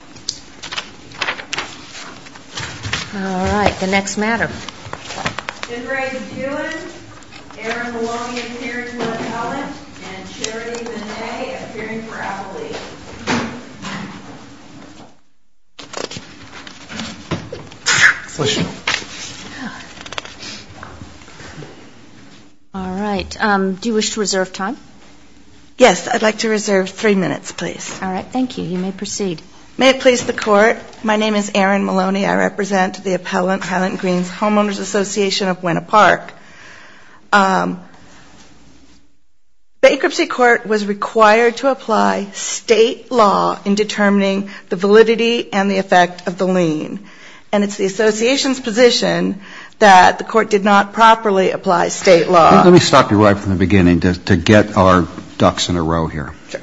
All right. Do you wish to reserve time? Yes. I'd like to reserve three minutes, please. All right. Thank you. You may proceed. May it please the Court, my name is Erin Maloney. I represent the appellant, Hyland Green's Homeowners Association of Winnipark. Bankruptcy court was required to apply state law in determining the validity and the effect of the lien, and it's the association's position that the court did not properly apply state law. Let me stop you right from the beginning to get our ducks in a row here. Sure.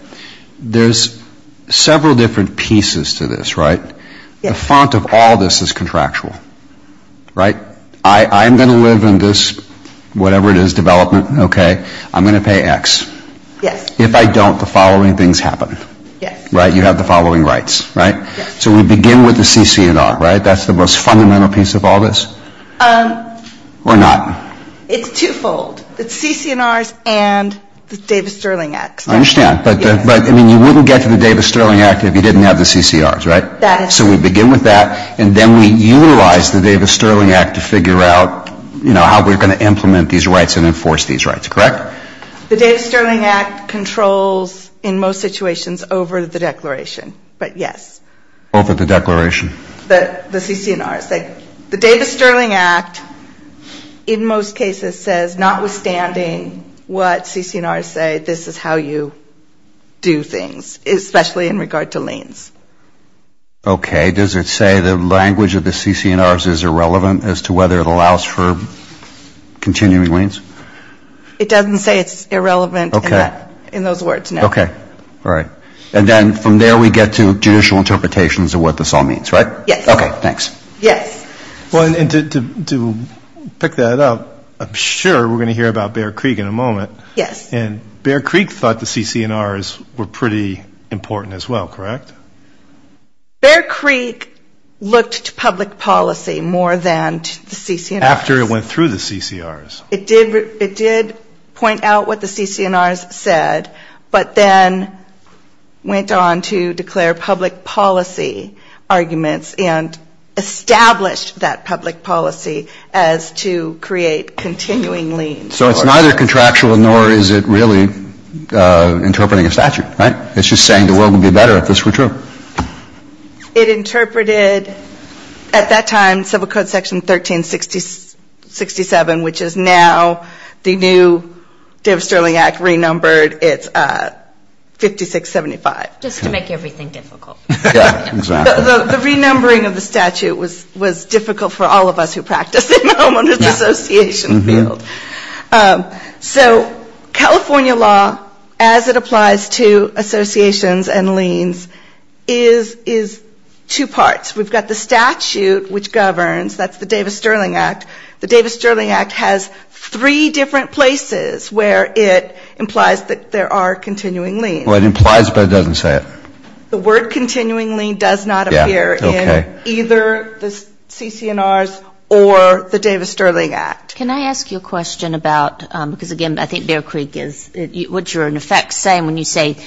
There's several different pieces to this, right? Yes. The font of all this is contractual, right? I'm going to live in this, whatever it is, development, okay? I'm going to pay X. Yes. If I don't, the following things happen. Yes. Right? You have the following rights, right? Yes. So we begin with the CC&R, right? That's the most fundamental piece of all this? Or not? It's twofold. It's CC&Rs and the Davis-Sterling X. I understand. Yes. But, I mean, you wouldn't get to the Davis-Sterling Act if you didn't have the CC&Rs, right? That is correct. So we begin with that, and then we utilize the Davis-Sterling Act to figure out, you know, how we're going to implement these rights and enforce these rights, correct? The Davis-Sterling Act controls, in most situations, over the declaration, but yes. Over the declaration? The CC&Rs. The Davis-Sterling Act, in most cases, says notwithstanding what CC&Rs say, this is how you do things, especially in regard to liens. Okay. Does it say the language of the CC&Rs is irrelevant as to whether it allows for continuing liens? It doesn't say it's irrelevant in those words, no. Okay. All right. And then from there we get to judicial interpretations of what this all means, right? Yes. Okay, thanks. Yes. Well, and to pick that up, I'm sure we're going to hear about Bear Creek in a moment. Yes. And Bear Creek thought the CC&Rs were pretty important as well, correct? Bear Creek looked to public policy more than to the CC&Rs. After it went through the CC&Rs. It did point out what the CC&Rs said, but then went on to declare public policy arguments and established that public policy as to create continuing liens. So it's neither contractual nor is it really interpreting a statute, right? It's just saying the world would be better if this were true. It interpreted, at that time, Civil Code Section 1367, which is now the new Davis-Sterling Act, renumbered. It's 5675. Just to make everything difficult. Exactly. The renumbering of the statute was difficult for all of us who practice at home on this association field. So California law, as it applies to associations and liens, is two parts. We've got the statute which governs. That's the Davis-Sterling Act. The Davis-Sterling Act has three different places where it implies that there are continuing liens. Well, it implies, but it doesn't say it. The word continuing lien does not appear in either the CC&Rs or the Davis-Sterling Act. Can I ask you a question about, because, again, I think Bear Creek is what you're, in effect, saying when you say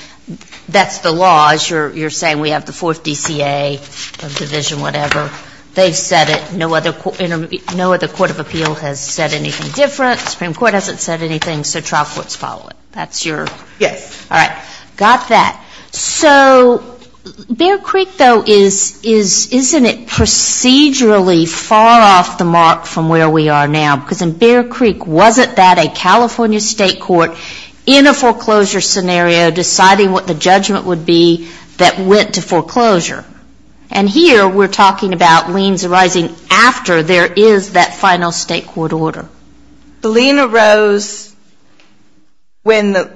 that's the law, as you're saying we have the fourth DCA or division, whatever. They've said it. No other court of appeal has said anything different. The Supreme Court hasn't said anything. So trial courts follow it. That's your? Yes. All right. Got that. So Bear Creek, though, isn't it procedurally far off the mark from where we are now? Because in Bear Creek, wasn't that a California state court in a foreclosure scenario deciding what the judgment would be that went to foreclosure? And here we're talking about liens arising after there is that final state court order. The lien arose when the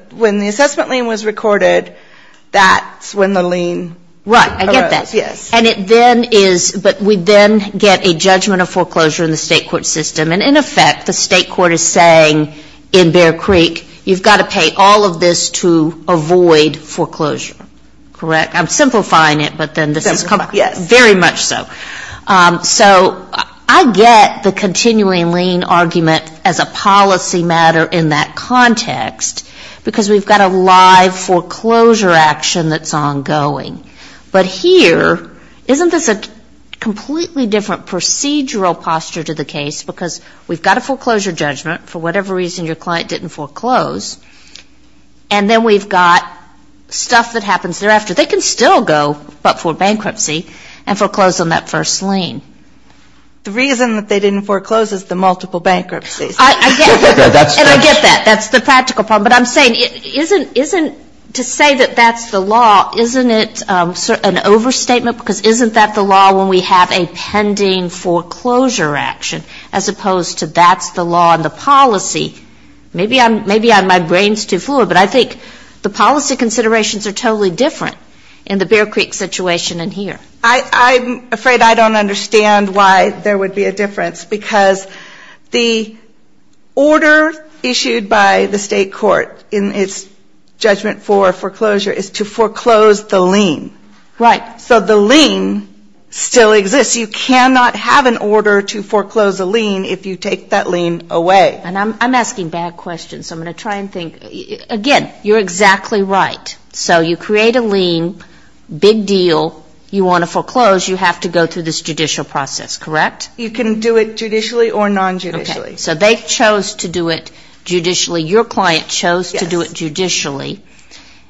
assessment lien was recorded. That's when the lien arose. Right. I get that. Yes. And it then is, but we then get a judgment of foreclosure in the state court system. And, in effect, the state court is saying in Bear Creek you've got to pay all of this to avoid foreclosure. Correct? I'm simplifying it, but then this is very much so. Yes. So I get the continuing lien argument as a policy matter in that context because we've got a live foreclosure action that's ongoing. But here, isn't this a completely different procedural posture to the case because we've got a foreclosure judgment, for whatever reason your client didn't foreclose, and then we've got stuff that happens thereafter. They can still go but for bankruptcy and foreclose on that first lien. The reason that they didn't foreclose is the multiple bankruptcies. I get that. And I get that. That's the practical problem. But I'm saying, to say that that's the law, isn't it an overstatement? Because isn't that the law when we have a pending foreclosure action as opposed to that's the law in the policy? Maybe my brain's too fluid, but I think the policy considerations are totally different in the Bear Creek situation and here. I'm afraid I don't understand why there would be a difference because the order issued by the state court in its judgment for foreclosure is to foreclose the lien. Right. So the lien still exists. You cannot have an order to foreclose a lien if you take that lien away. And I'm asking bad questions, so I'm going to try and think. Again, you're exactly right. So you create a lien, big deal, you want to foreclose, you have to go through this judicial process, correct? You can do it judicially or non-judicially. So they chose to do it judicially. Your client chose to do it judicially.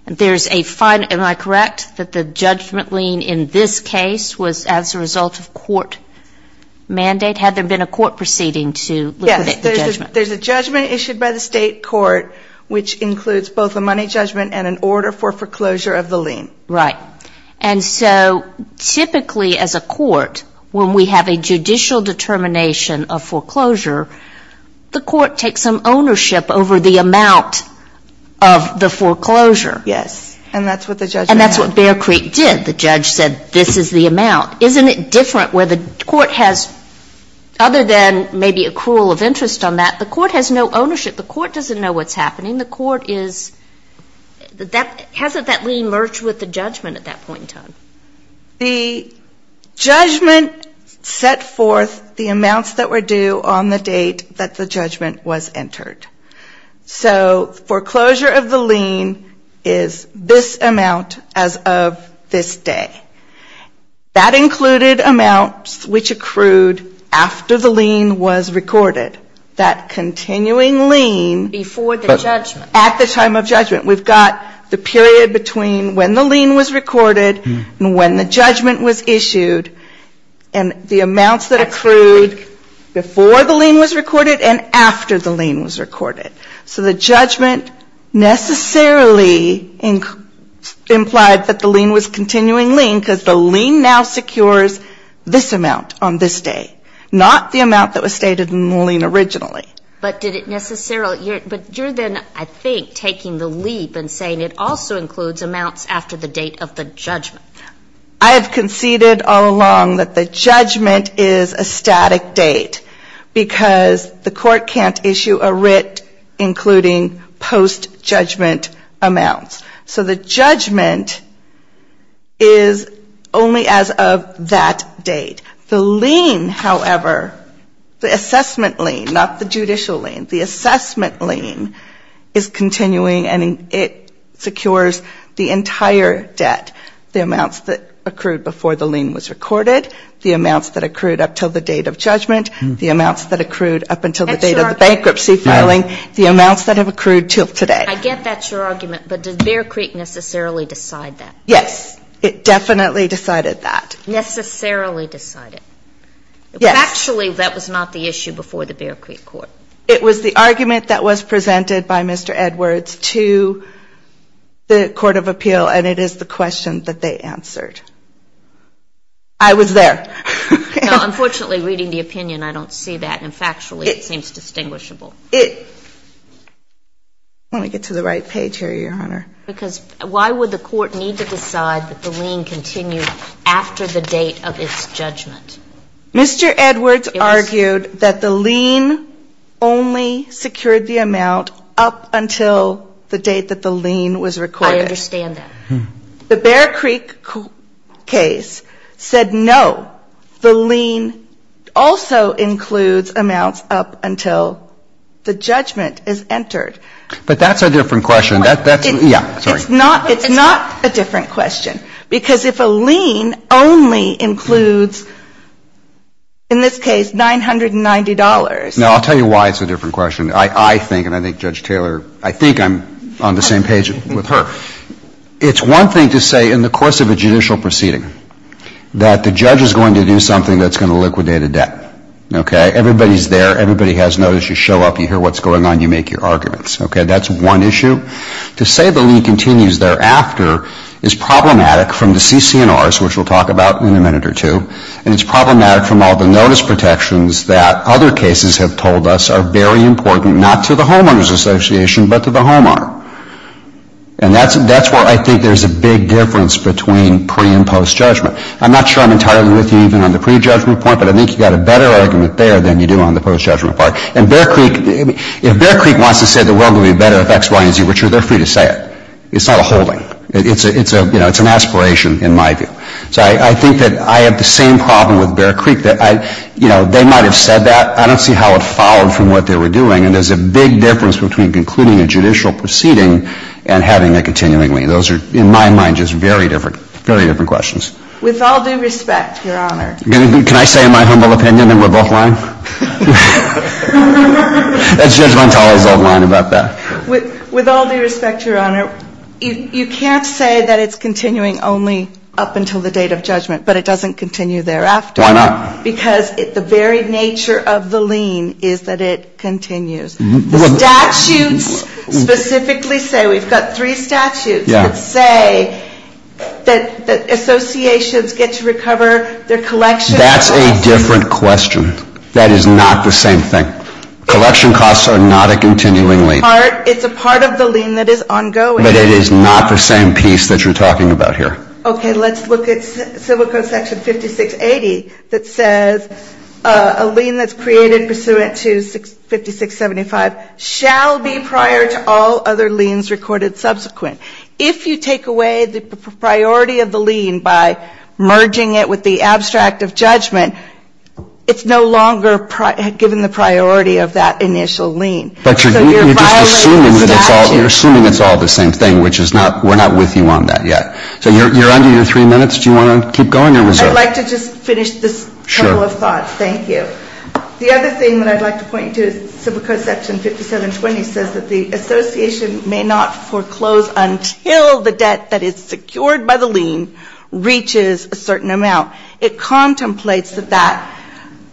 There's a fine. Am I correct that the judgment lien in this case was as a result of court mandate? Had there been a court proceeding to liquidate the judgment? There's a judgment issued by the state court which includes both a money judgment and an order for foreclosure of the lien. Right. And so typically as a court, when we have a judicial determination of foreclosure, the court takes some ownership over the amount of the foreclosure. Yes. And that's what the judge did. And that's what Bear Creek did. The judge said this is the amount. Isn't it different where the court has, other than maybe accrual of interest on that, the court has no ownership. The court doesn't know what's happening. The court is, hasn't that lien merged with the judgment at that point in time? The judgment set forth the amounts that were due on the date that the judgment was entered. So foreclosure of the lien is this amount as of this day. That included amounts which accrued after the lien was recorded. That continuing lien. Before the judgment. At the time of judgment. We've got the period between when the lien was recorded and when the judgment was issued. And the amounts that accrued before the lien was recorded and after the lien was recorded. So the judgment necessarily implied that the lien was continuing lien because the lien now secures this amount on this day. Not the amount that was stated in the lien originally. But did it necessarily, but you're then I think taking the leap and saying it also includes amounts after the date of the judgment. I have conceded all along that the judgment is a static date. Because the court can't issue a writ including post-judgment amounts. So the judgment is only as of that date. The lien, however, the assessment lien, not the judicial lien, the assessment lien is continuing and it secures the entire debt. The amounts that accrued before the lien was recorded. The amounts that accrued up until the date of judgment. The amounts that accrued up until the date of the bankruptcy filing. The amounts that have accrued until today. I get that's your argument. But did Bear Creek necessarily decide that? Yes. It definitely decided that. Necessarily decided. Yes. But actually that was not the issue before the Bear Creek court. It was the argument that was presented by Mr. Edwards to the court of appeal and it is the question that they answered. I was there. No, unfortunately reading the opinion I don't see that and factually it seems distinguishable. Let me get to the right page here, Your Honor. Because why would the court need to decide that the lien continued after the date of its judgment? Mr. Edwards argued that the lien only secured the amount up until the date that the lien was recorded. I understand that. The Bear Creek case said no, the lien also includes amounts up until the judgment is entered. But that's a different question. It's not a different question. Because if a lien only includes, in this case, $990. No, I'll tell you why it's a different question. I think, and I think Judge Taylor, I think I'm on the same page with her. It's one thing to say in the course of a judicial proceeding that the judge is going to do something that's going to liquidate a debt. Okay? Everybody's there. Everybody has notice. You show up. You hear what's going on. You make your arguments. Okay? That's one issue. To say the lien continues thereafter is problematic from the CC&Rs, which we'll talk about in a minute or two, and it's problematic from all the notice protections that other cases have told us are very important, not to the homeowners association, but to the homeowner. And that's where I think there's a big difference between pre- and post-judgment. I'm not sure I'm entirely with you even on the pre-judgment point, but I think you've got a better argument there than you do on the post-judgment part. And Bear Creek, if Bear Creek wants to say the world would be better if X, Y, and Z were true, they're free to say it. It's not a holding. It's a, you know, it's an aspiration in my view. So I think that I have the same problem with Bear Creek that I, you know, they might have said that. I don't see how it followed from what they were doing. And there's a big difference between concluding a judicial proceeding and having a continuing lien. Those are, in my mind, just very different, very different questions. With all due respect, Your Honor. Can I say in my humble opinion that we're both lying? That's Judge Montali's old line about that. With all due respect, Your Honor, you can't say that it's continuing only up until the date of judgment, but it doesn't continue thereafter. Why not? Because the very nature of the lien is that it continues. Statutes specifically say, we've got three statutes that say that associations get to recover their collection costs. That's a different question. That is not the same thing. Collection costs are not a continuing lien. It's a part of the lien that is ongoing. But it is not the same piece that you're talking about here. Okay. Let's look at Civil Code Section 5680 that says a lien that's created pursuant to 5675 shall be prior to all other liens recorded subsequent. If you take away the priority of the lien by merging it with the abstract of judgment, it's no longer given the priority of that initial lien. But you're just assuming that it's all the same thing, which is not we're not with you on that yet. So you're under your three minutes. Do you want to keep going? I'd like to just finish this total of thoughts. Thank you. The other thing that I'd like to point you to is Civil Code Section 5720 says that the association may not foreclose until the debt that is secured by the lien reaches a certain amount. It contemplates that that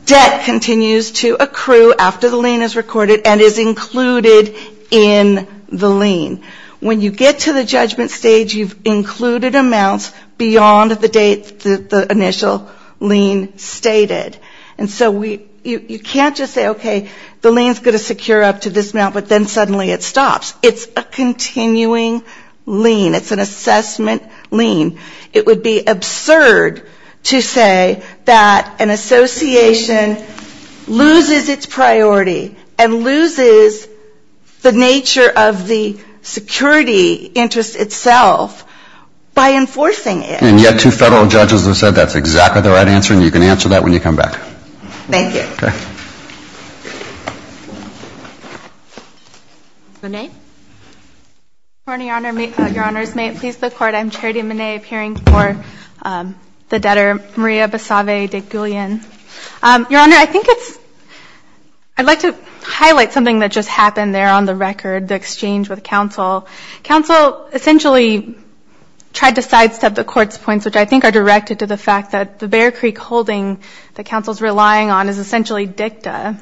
debt continues to accrue after the lien is recorded and is included in the lien. When you get to the judgment stage, you've included amounts beyond the date that the initial lien stated. And so you can't just say, okay, the lien is going to secure up to this amount, but then suddenly it stops. It's a continuing lien. It's an assessment lien. It would be absurd to say that an association loses its priority and loses the nature of the security interest itself by enforcing it. And yet two federal judges have said that's exactly the right answer, and you can answer that when you come back. Thank you. Okay. Monáe? Good morning, Your Honor. Your Honors, may it please the Court, I'm Charity Monáe, appearing for the debtor Maria Basave de Gullion. Your Honor, I think it's, I'd like to highlight something that just happened there on the record, the exchange with counsel. Counsel essentially tried to sidestep the Court's points, which I think are directed to the fact that the Bear Creek holding that counsel's relying on is essentially dicta.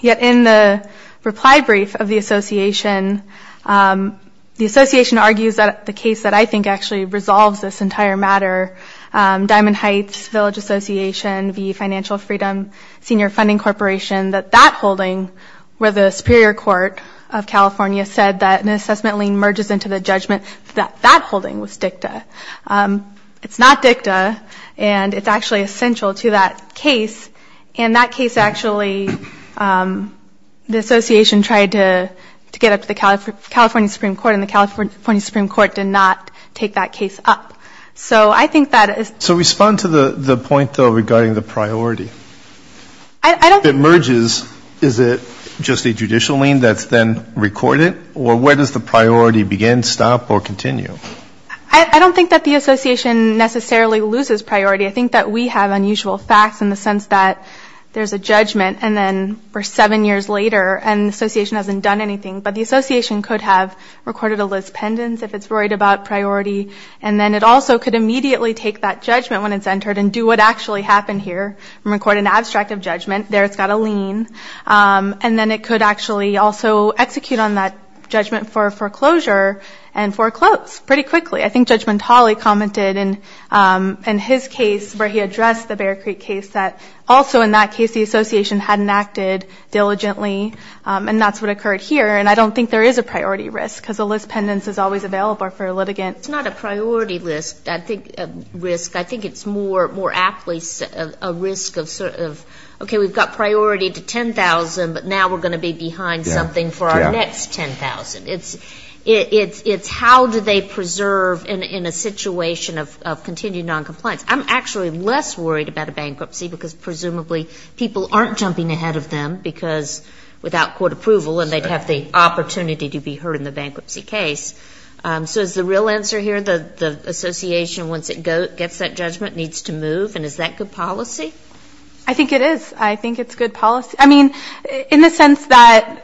Yet in the reply brief of the association, the association argues that the case that I think actually resolves this entire matter, Diamond Heights Village Association v. Financial Freedom Senior Funding Corporation, that that holding, where the Superior Court of California said that an assessment lien merges into the judgment, that that holding was dicta. It's not dicta, and it's actually essential to that case. And that case actually, the association tried to get up to the California Supreme Court, and the California Supreme Court did not take that case up. So I think that is... So respond to the point, though, regarding the priority. I don't... If it merges, is it just a judicial lien that's then recorded? Or where does the priority begin, stop, or continue? I don't think that the association necessarily loses priority. I think that we have unusual facts in the sense that there's a judgment, and then we're seven years later, and the association hasn't done anything. But the association could have recorded a lis pendens if it's worried about priority, and then it also could immediately take that judgment when it's entered and do what actually happened here and record an abstract of judgment. There it's got a lien. And then it could actually also execute on that judgment for foreclosure and foreclose pretty quickly. I think Judgement Talley commented in his case where he addressed the Bear Creek case that also in that case the association hadn't acted diligently, and that's what occurred here. And I don't think there is a priority risk because a lis pendens is always available for a litigant. It's not a priority risk. I think it's more aptly a risk of, okay, we've got priority to $10,000, but now we're going to be behind something for our next $10,000. It's how do they preserve in a situation of continued noncompliance. I'm actually less worried about a bankruptcy because presumably people aren't jumping ahead of them because without court approval and they'd have the opportunity to be heard in the bankruptcy case. So is the real answer here the association, once it gets that judgment, needs to move? And is that good policy? I think it is. I think it's good policy. I mean, in the sense that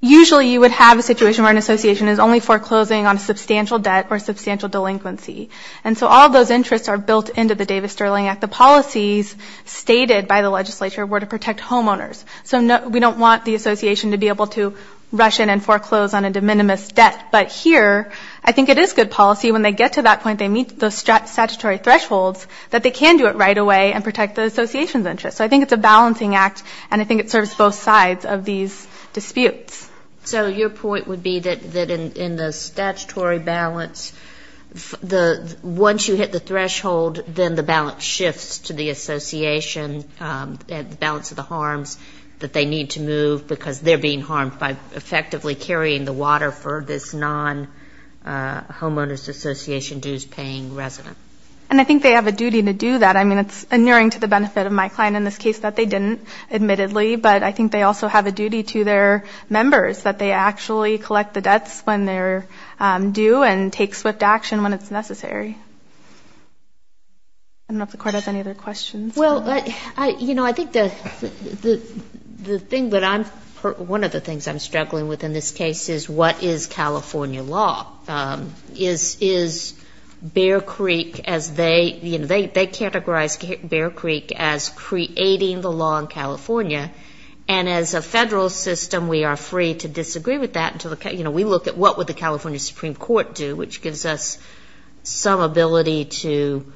usually you would have a situation where an association is only foreclosing on a substantial debt or substantial delinquency. And so all those interests are built into the Davis-Sterling Act. The policies stated by the legislature were to protect homeowners. So we don't want the association to be able to rush in and foreclose on a de minimis debt, but here I think it is good policy when they get to that point, they meet the statutory thresholds, that they can do it right away and protect the association's interest. So I think it's a balancing act, and I think it serves both sides of these disputes. So your point would be that in the statutory balance, once you hit the threshold, then the balance shifts to the association, the balance of the harms that they need to move because they're being harmed by effectively carrying the water for this non-Homeowners Association dues-paying resident. And I think they have a duty to do that. I mean, it's inuring to the benefit of my client in this case that they didn't, admittedly, but I think they also have a duty to their members that they actually collect the debts when they're due and take swift action when it's necessary. I don't know if the Court has any other questions. Well, you know, I think the thing that I'm ‑‑ one of the things I'm struggling with in this case is what is California law? Is Bear Creek as they ‑‑ they categorize Bear Creek as creating the law in California, and as a federal system we are free to disagree with that until the ‑‑ you know, we look at what would the California Supreme Court do, which gives us some ability to,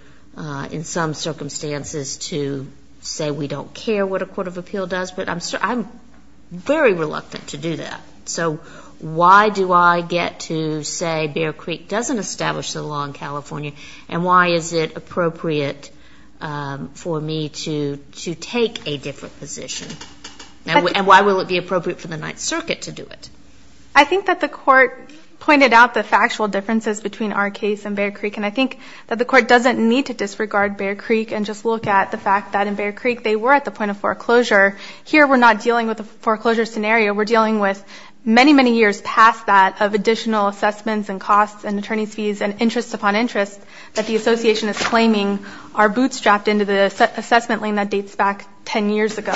in some circumstances, to say we don't care what a court of appeal does, but I'm very reluctant to do that. So why do I get to say Bear Creek doesn't establish the law in California, and why is it appropriate for me to take a different position? And why will it be appropriate for the Ninth Circuit to do it? I think that the Court pointed out the factual differences between our case and Bear Creek, and I think that the Court doesn't need to disregard Bear Creek and just look at the fact that in Bear Creek they were at the point of foreclosure. Here we're not dealing with a foreclosure scenario. We're dealing with many, many years past that of additional assessments and costs and attorney's fees and interest upon interest that the Association is claiming are bootstrapped into the assessment lane that dates back 10 years ago.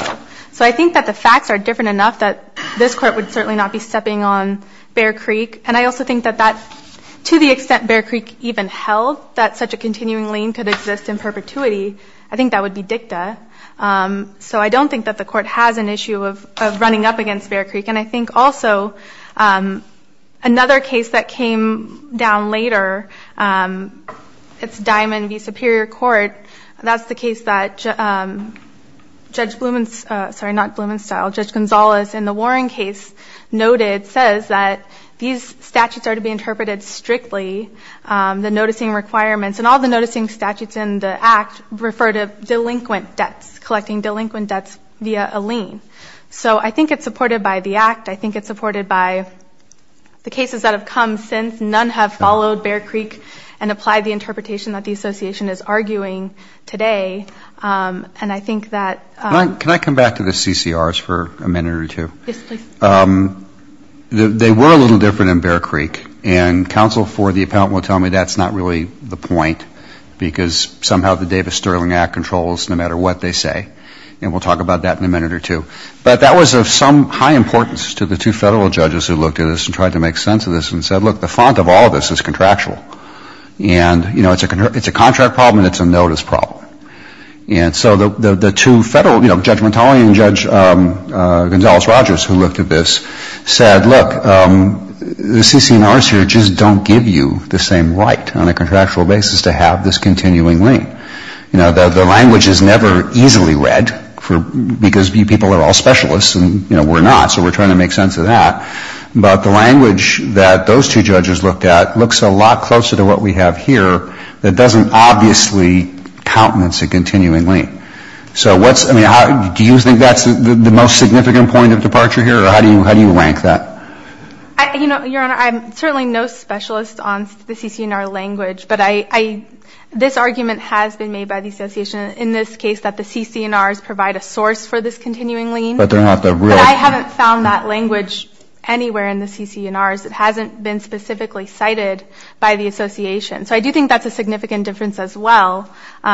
So I think that the facts are different enough that this Court would certainly not be stepping on Bear Creek, and I also think that to the extent Bear Creek even held that such a continuing lane could exist in perpetuity, I think that would be dicta. So I don't think that the Court has an issue of running up against Bear Creek, and I think also another case that came down later, it's Diamond v. Superior Court. That's the case that Judge Blumenstyle, sorry, not Blumenstyle, Judge Gonzalez in the Warren case noted, says that these statutes are to be interpreted strictly, the noticing requirements, and all the noticing statutes in the Act refer to delinquent debts, collecting delinquent debts via a lien. So I think it's supported by the Act. I think it's supported by the cases that have come since. None have followed Bear Creek and applied the interpretation that the Association is arguing today, and I think that ‑‑ Can I come back to the CCRs for a minute or two? Yes, please. They were a little different in Bear Creek, and counsel for the appellant will tell me that's not really the point because somehow the Davis-Sterling Act controls no matter what they say, and we'll talk about that in a minute or two. But that was of some high importance to the two federal judges who looked at this and tried to make sense of this and said, look, the font of all of this is contractual. And, you know, it's a contract problem and it's a notice problem. And so the two federal, you know, Judge Montally and Judge Gonzalez-Rogers who looked at this said, look, the CCRs here just don't give you the same right on a contractual basis to have this continuing lien. You know, the language is never easily read because people are all specialists and, you know, we're not, so we're trying to make sense of that. But the language that those two judges looked at looks a lot closer to what we have here that doesn't obviously countenance a continuing lien. So what's, I mean, do you think that's the most significant point of departure here, or how do you rank that? You know, Your Honor, I'm certainly no specialist on the CCNR language, but this argument has been made by the association in this case that the CCNRs provide a source for this continuing lien. But they're not the real source. I haven't found that language anywhere in the CCNRs. It hasn't been specifically cited by the association. So I do think that's a significant difference as well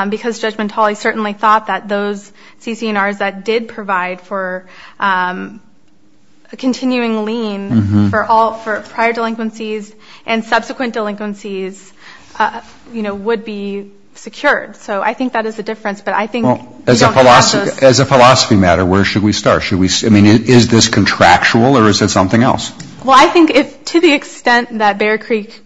because Judge Montally certainly thought that those CCNRs that did provide for a continuing lien for prior delinquencies and subsequent delinquencies, you know, would be secured. So I think that is the difference, but I think we don't have those. As a philosophy matter, where should we start? I mean, is this contractual, or is it something else? Well, I think to the extent that Bear Creek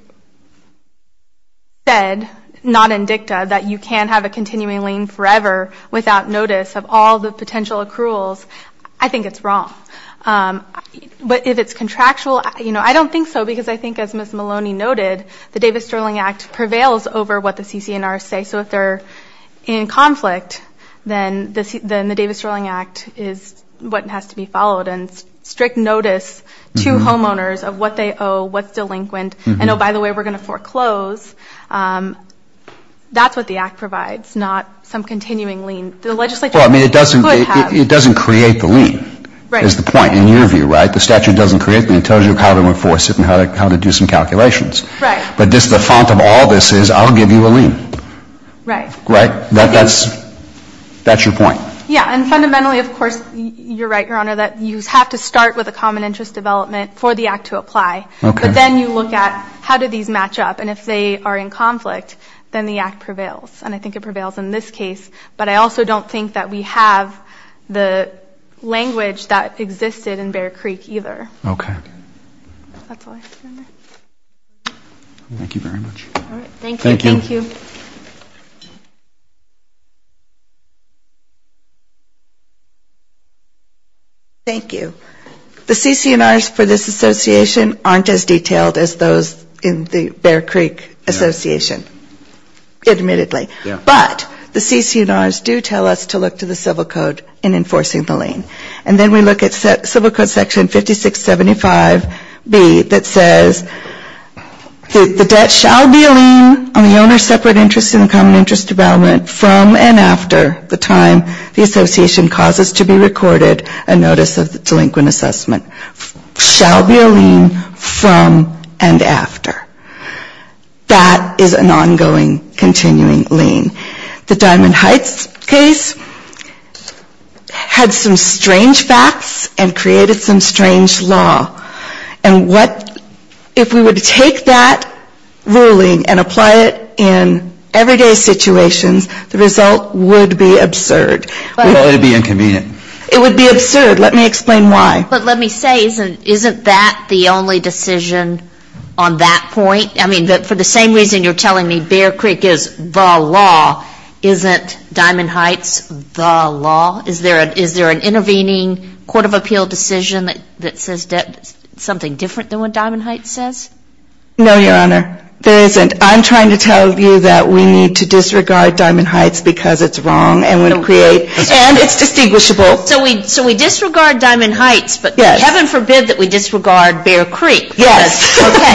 said, not in dicta, that you can have a continuing lien forever without notice of all the potential accruals, I think it's wrong. But if it's contractual, you know, I don't think so because I think, as Ms. Maloney noted, the Davis-Sterling Act prevails over what the CCNRs say. So if they're in conflict, then the Davis-Sterling Act is what has to be followed and strict notice to homeowners of what they owe, what's delinquent, and oh, by the way, we're going to foreclose. That's what the Act provides, not some continuing lien. Well, I mean, it doesn't create the lien is the point in your view, right? The statute doesn't create the lien. It tells you how to enforce it and how to do some calculations. Right. But just the font of all this is I'll give you a lien. Right. Right. That's your point. Yeah, and fundamentally, of course, you're right, Your Honor, that you have to start with a common interest development for the Act to apply. Okay. But then you look at how do these match up, and if they are in conflict, then the Act prevails. And I think it prevails in this case. But I also don't think that we have the language that existed in Bear Creek either. Okay. That's all I have to say. Thank you very much. All right. Thank you. Thank you. Thank you. The CC&Rs for this association aren't as detailed as those in the Bear Creek Association, admittedly. Yeah. But the CC&Rs do tell us to look to the Civil Code in enforcing the lien. And then we look at Civil Code Section 5675B that says, the debt shall be a lien on the owner's separate interest in the common interest development from and after the time the association causes to be recorded a notice of delinquent assessment. Shall be a lien from and after. That is an ongoing, continuing lien. The Diamond Heights case had some strange facts and created some strange law. And what, if we were to take that ruling and apply it in everyday situations, the result would be absurd. Well, it would be inconvenient. It would be absurd. Let me explain why. But let me say, isn't that the only decision on that point? I mean, for the same reason you're telling me Bear Creek is the law, isn't Diamond Heights the law? Is there an intervening court of appeal decision that says something different than what Diamond Heights says? No, Your Honor. There isn't. I'm trying to tell you that we need to disregard Diamond Heights because it's wrong and it's distinguishable. So we disregard Diamond Heights, but heaven forbid that we disregard Bear Creek. Yes. Okay.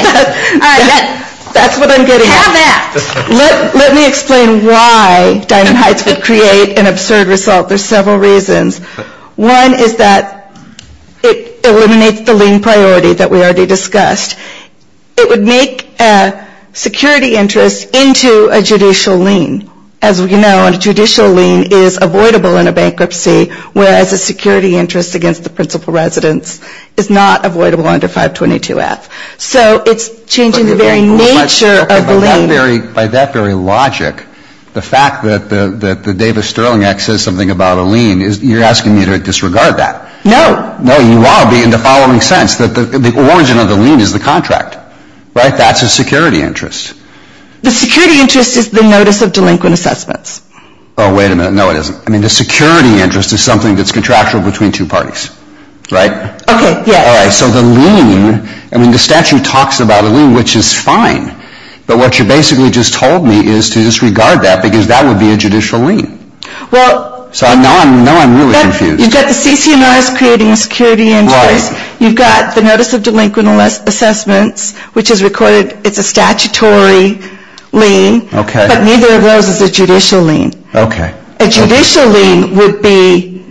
All right. That's what I'm getting at. Have at it. Let me explain why Diamond Heights would create an absurd result. There's several reasons. One is that it eliminates the lien priority that we already discussed. It would make a security interest into a judicial lien. As we know, a judicial lien is avoidable in a bankruptcy, whereas a security interest against the principal residence is not avoidable under 522F. So it's changing the very nature of the lien. By that very logic, the fact that the Davis-Sterling Act says something about a lien, you're asking me to disregard that? No. No, you ought to be in the following sense, that the origin of the lien is the contract. Right? That's a security interest. The security interest is the notice of delinquent assessments. Oh, wait a minute. No, it isn't. I mean, the security interest is something that's contractual between two parties. Right? Okay. Yes. All right. So the lien, I mean, the statute talks about a lien, which is fine. But what you basically just told me is to disregard that because that would be a judicial lien. Well. So now I'm really confused. You've got the CCMRs creating a security interest. Right. You've got the notice of delinquent assessments, which is recorded, it's a statutory lien. Okay. But neither of those is a judicial lien. Okay. A judicial lien would be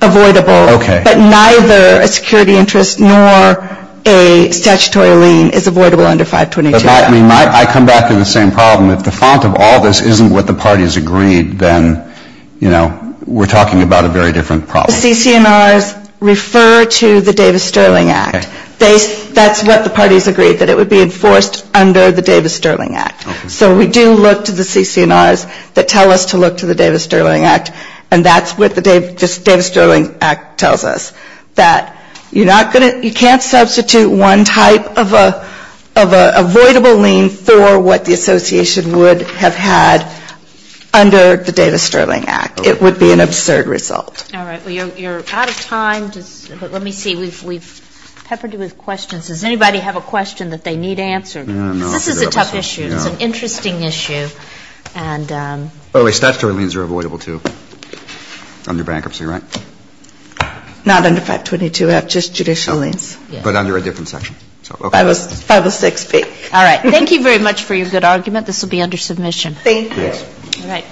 avoidable. Okay. But neither a security interest nor a statutory lien is avoidable under 522. I mean, I come back to the same problem. If the font of all this isn't what the parties agreed, then, you know, we're talking about a very different problem. The CCMRs refer to the Davis-Sterling Act. Okay. That's what the parties agreed, that it would be enforced under the Davis-Sterling Act. Okay. So we do look to the CCMRs that tell us to look to the Davis-Sterling Act, and that's what the Davis-Sterling Act tells us. That you're not going to you can't substitute one type of an avoidable lien for what the association would have had under the Davis-Sterling Act. It would be an absurd result. All right. Well, you're out of time. Let me see. We've peppered you with questions. Does anybody have a question that they need answered? No. This is a tough issue. It's an interesting issue. Oh, wait. Statutory liens are avoidable, too, under bankruptcy, right? Not under 522-F, just judicial liens. But under a different section. Okay. 506-P. All right. Thank you very much for your good argument. This will be under submission. Thank you. All right.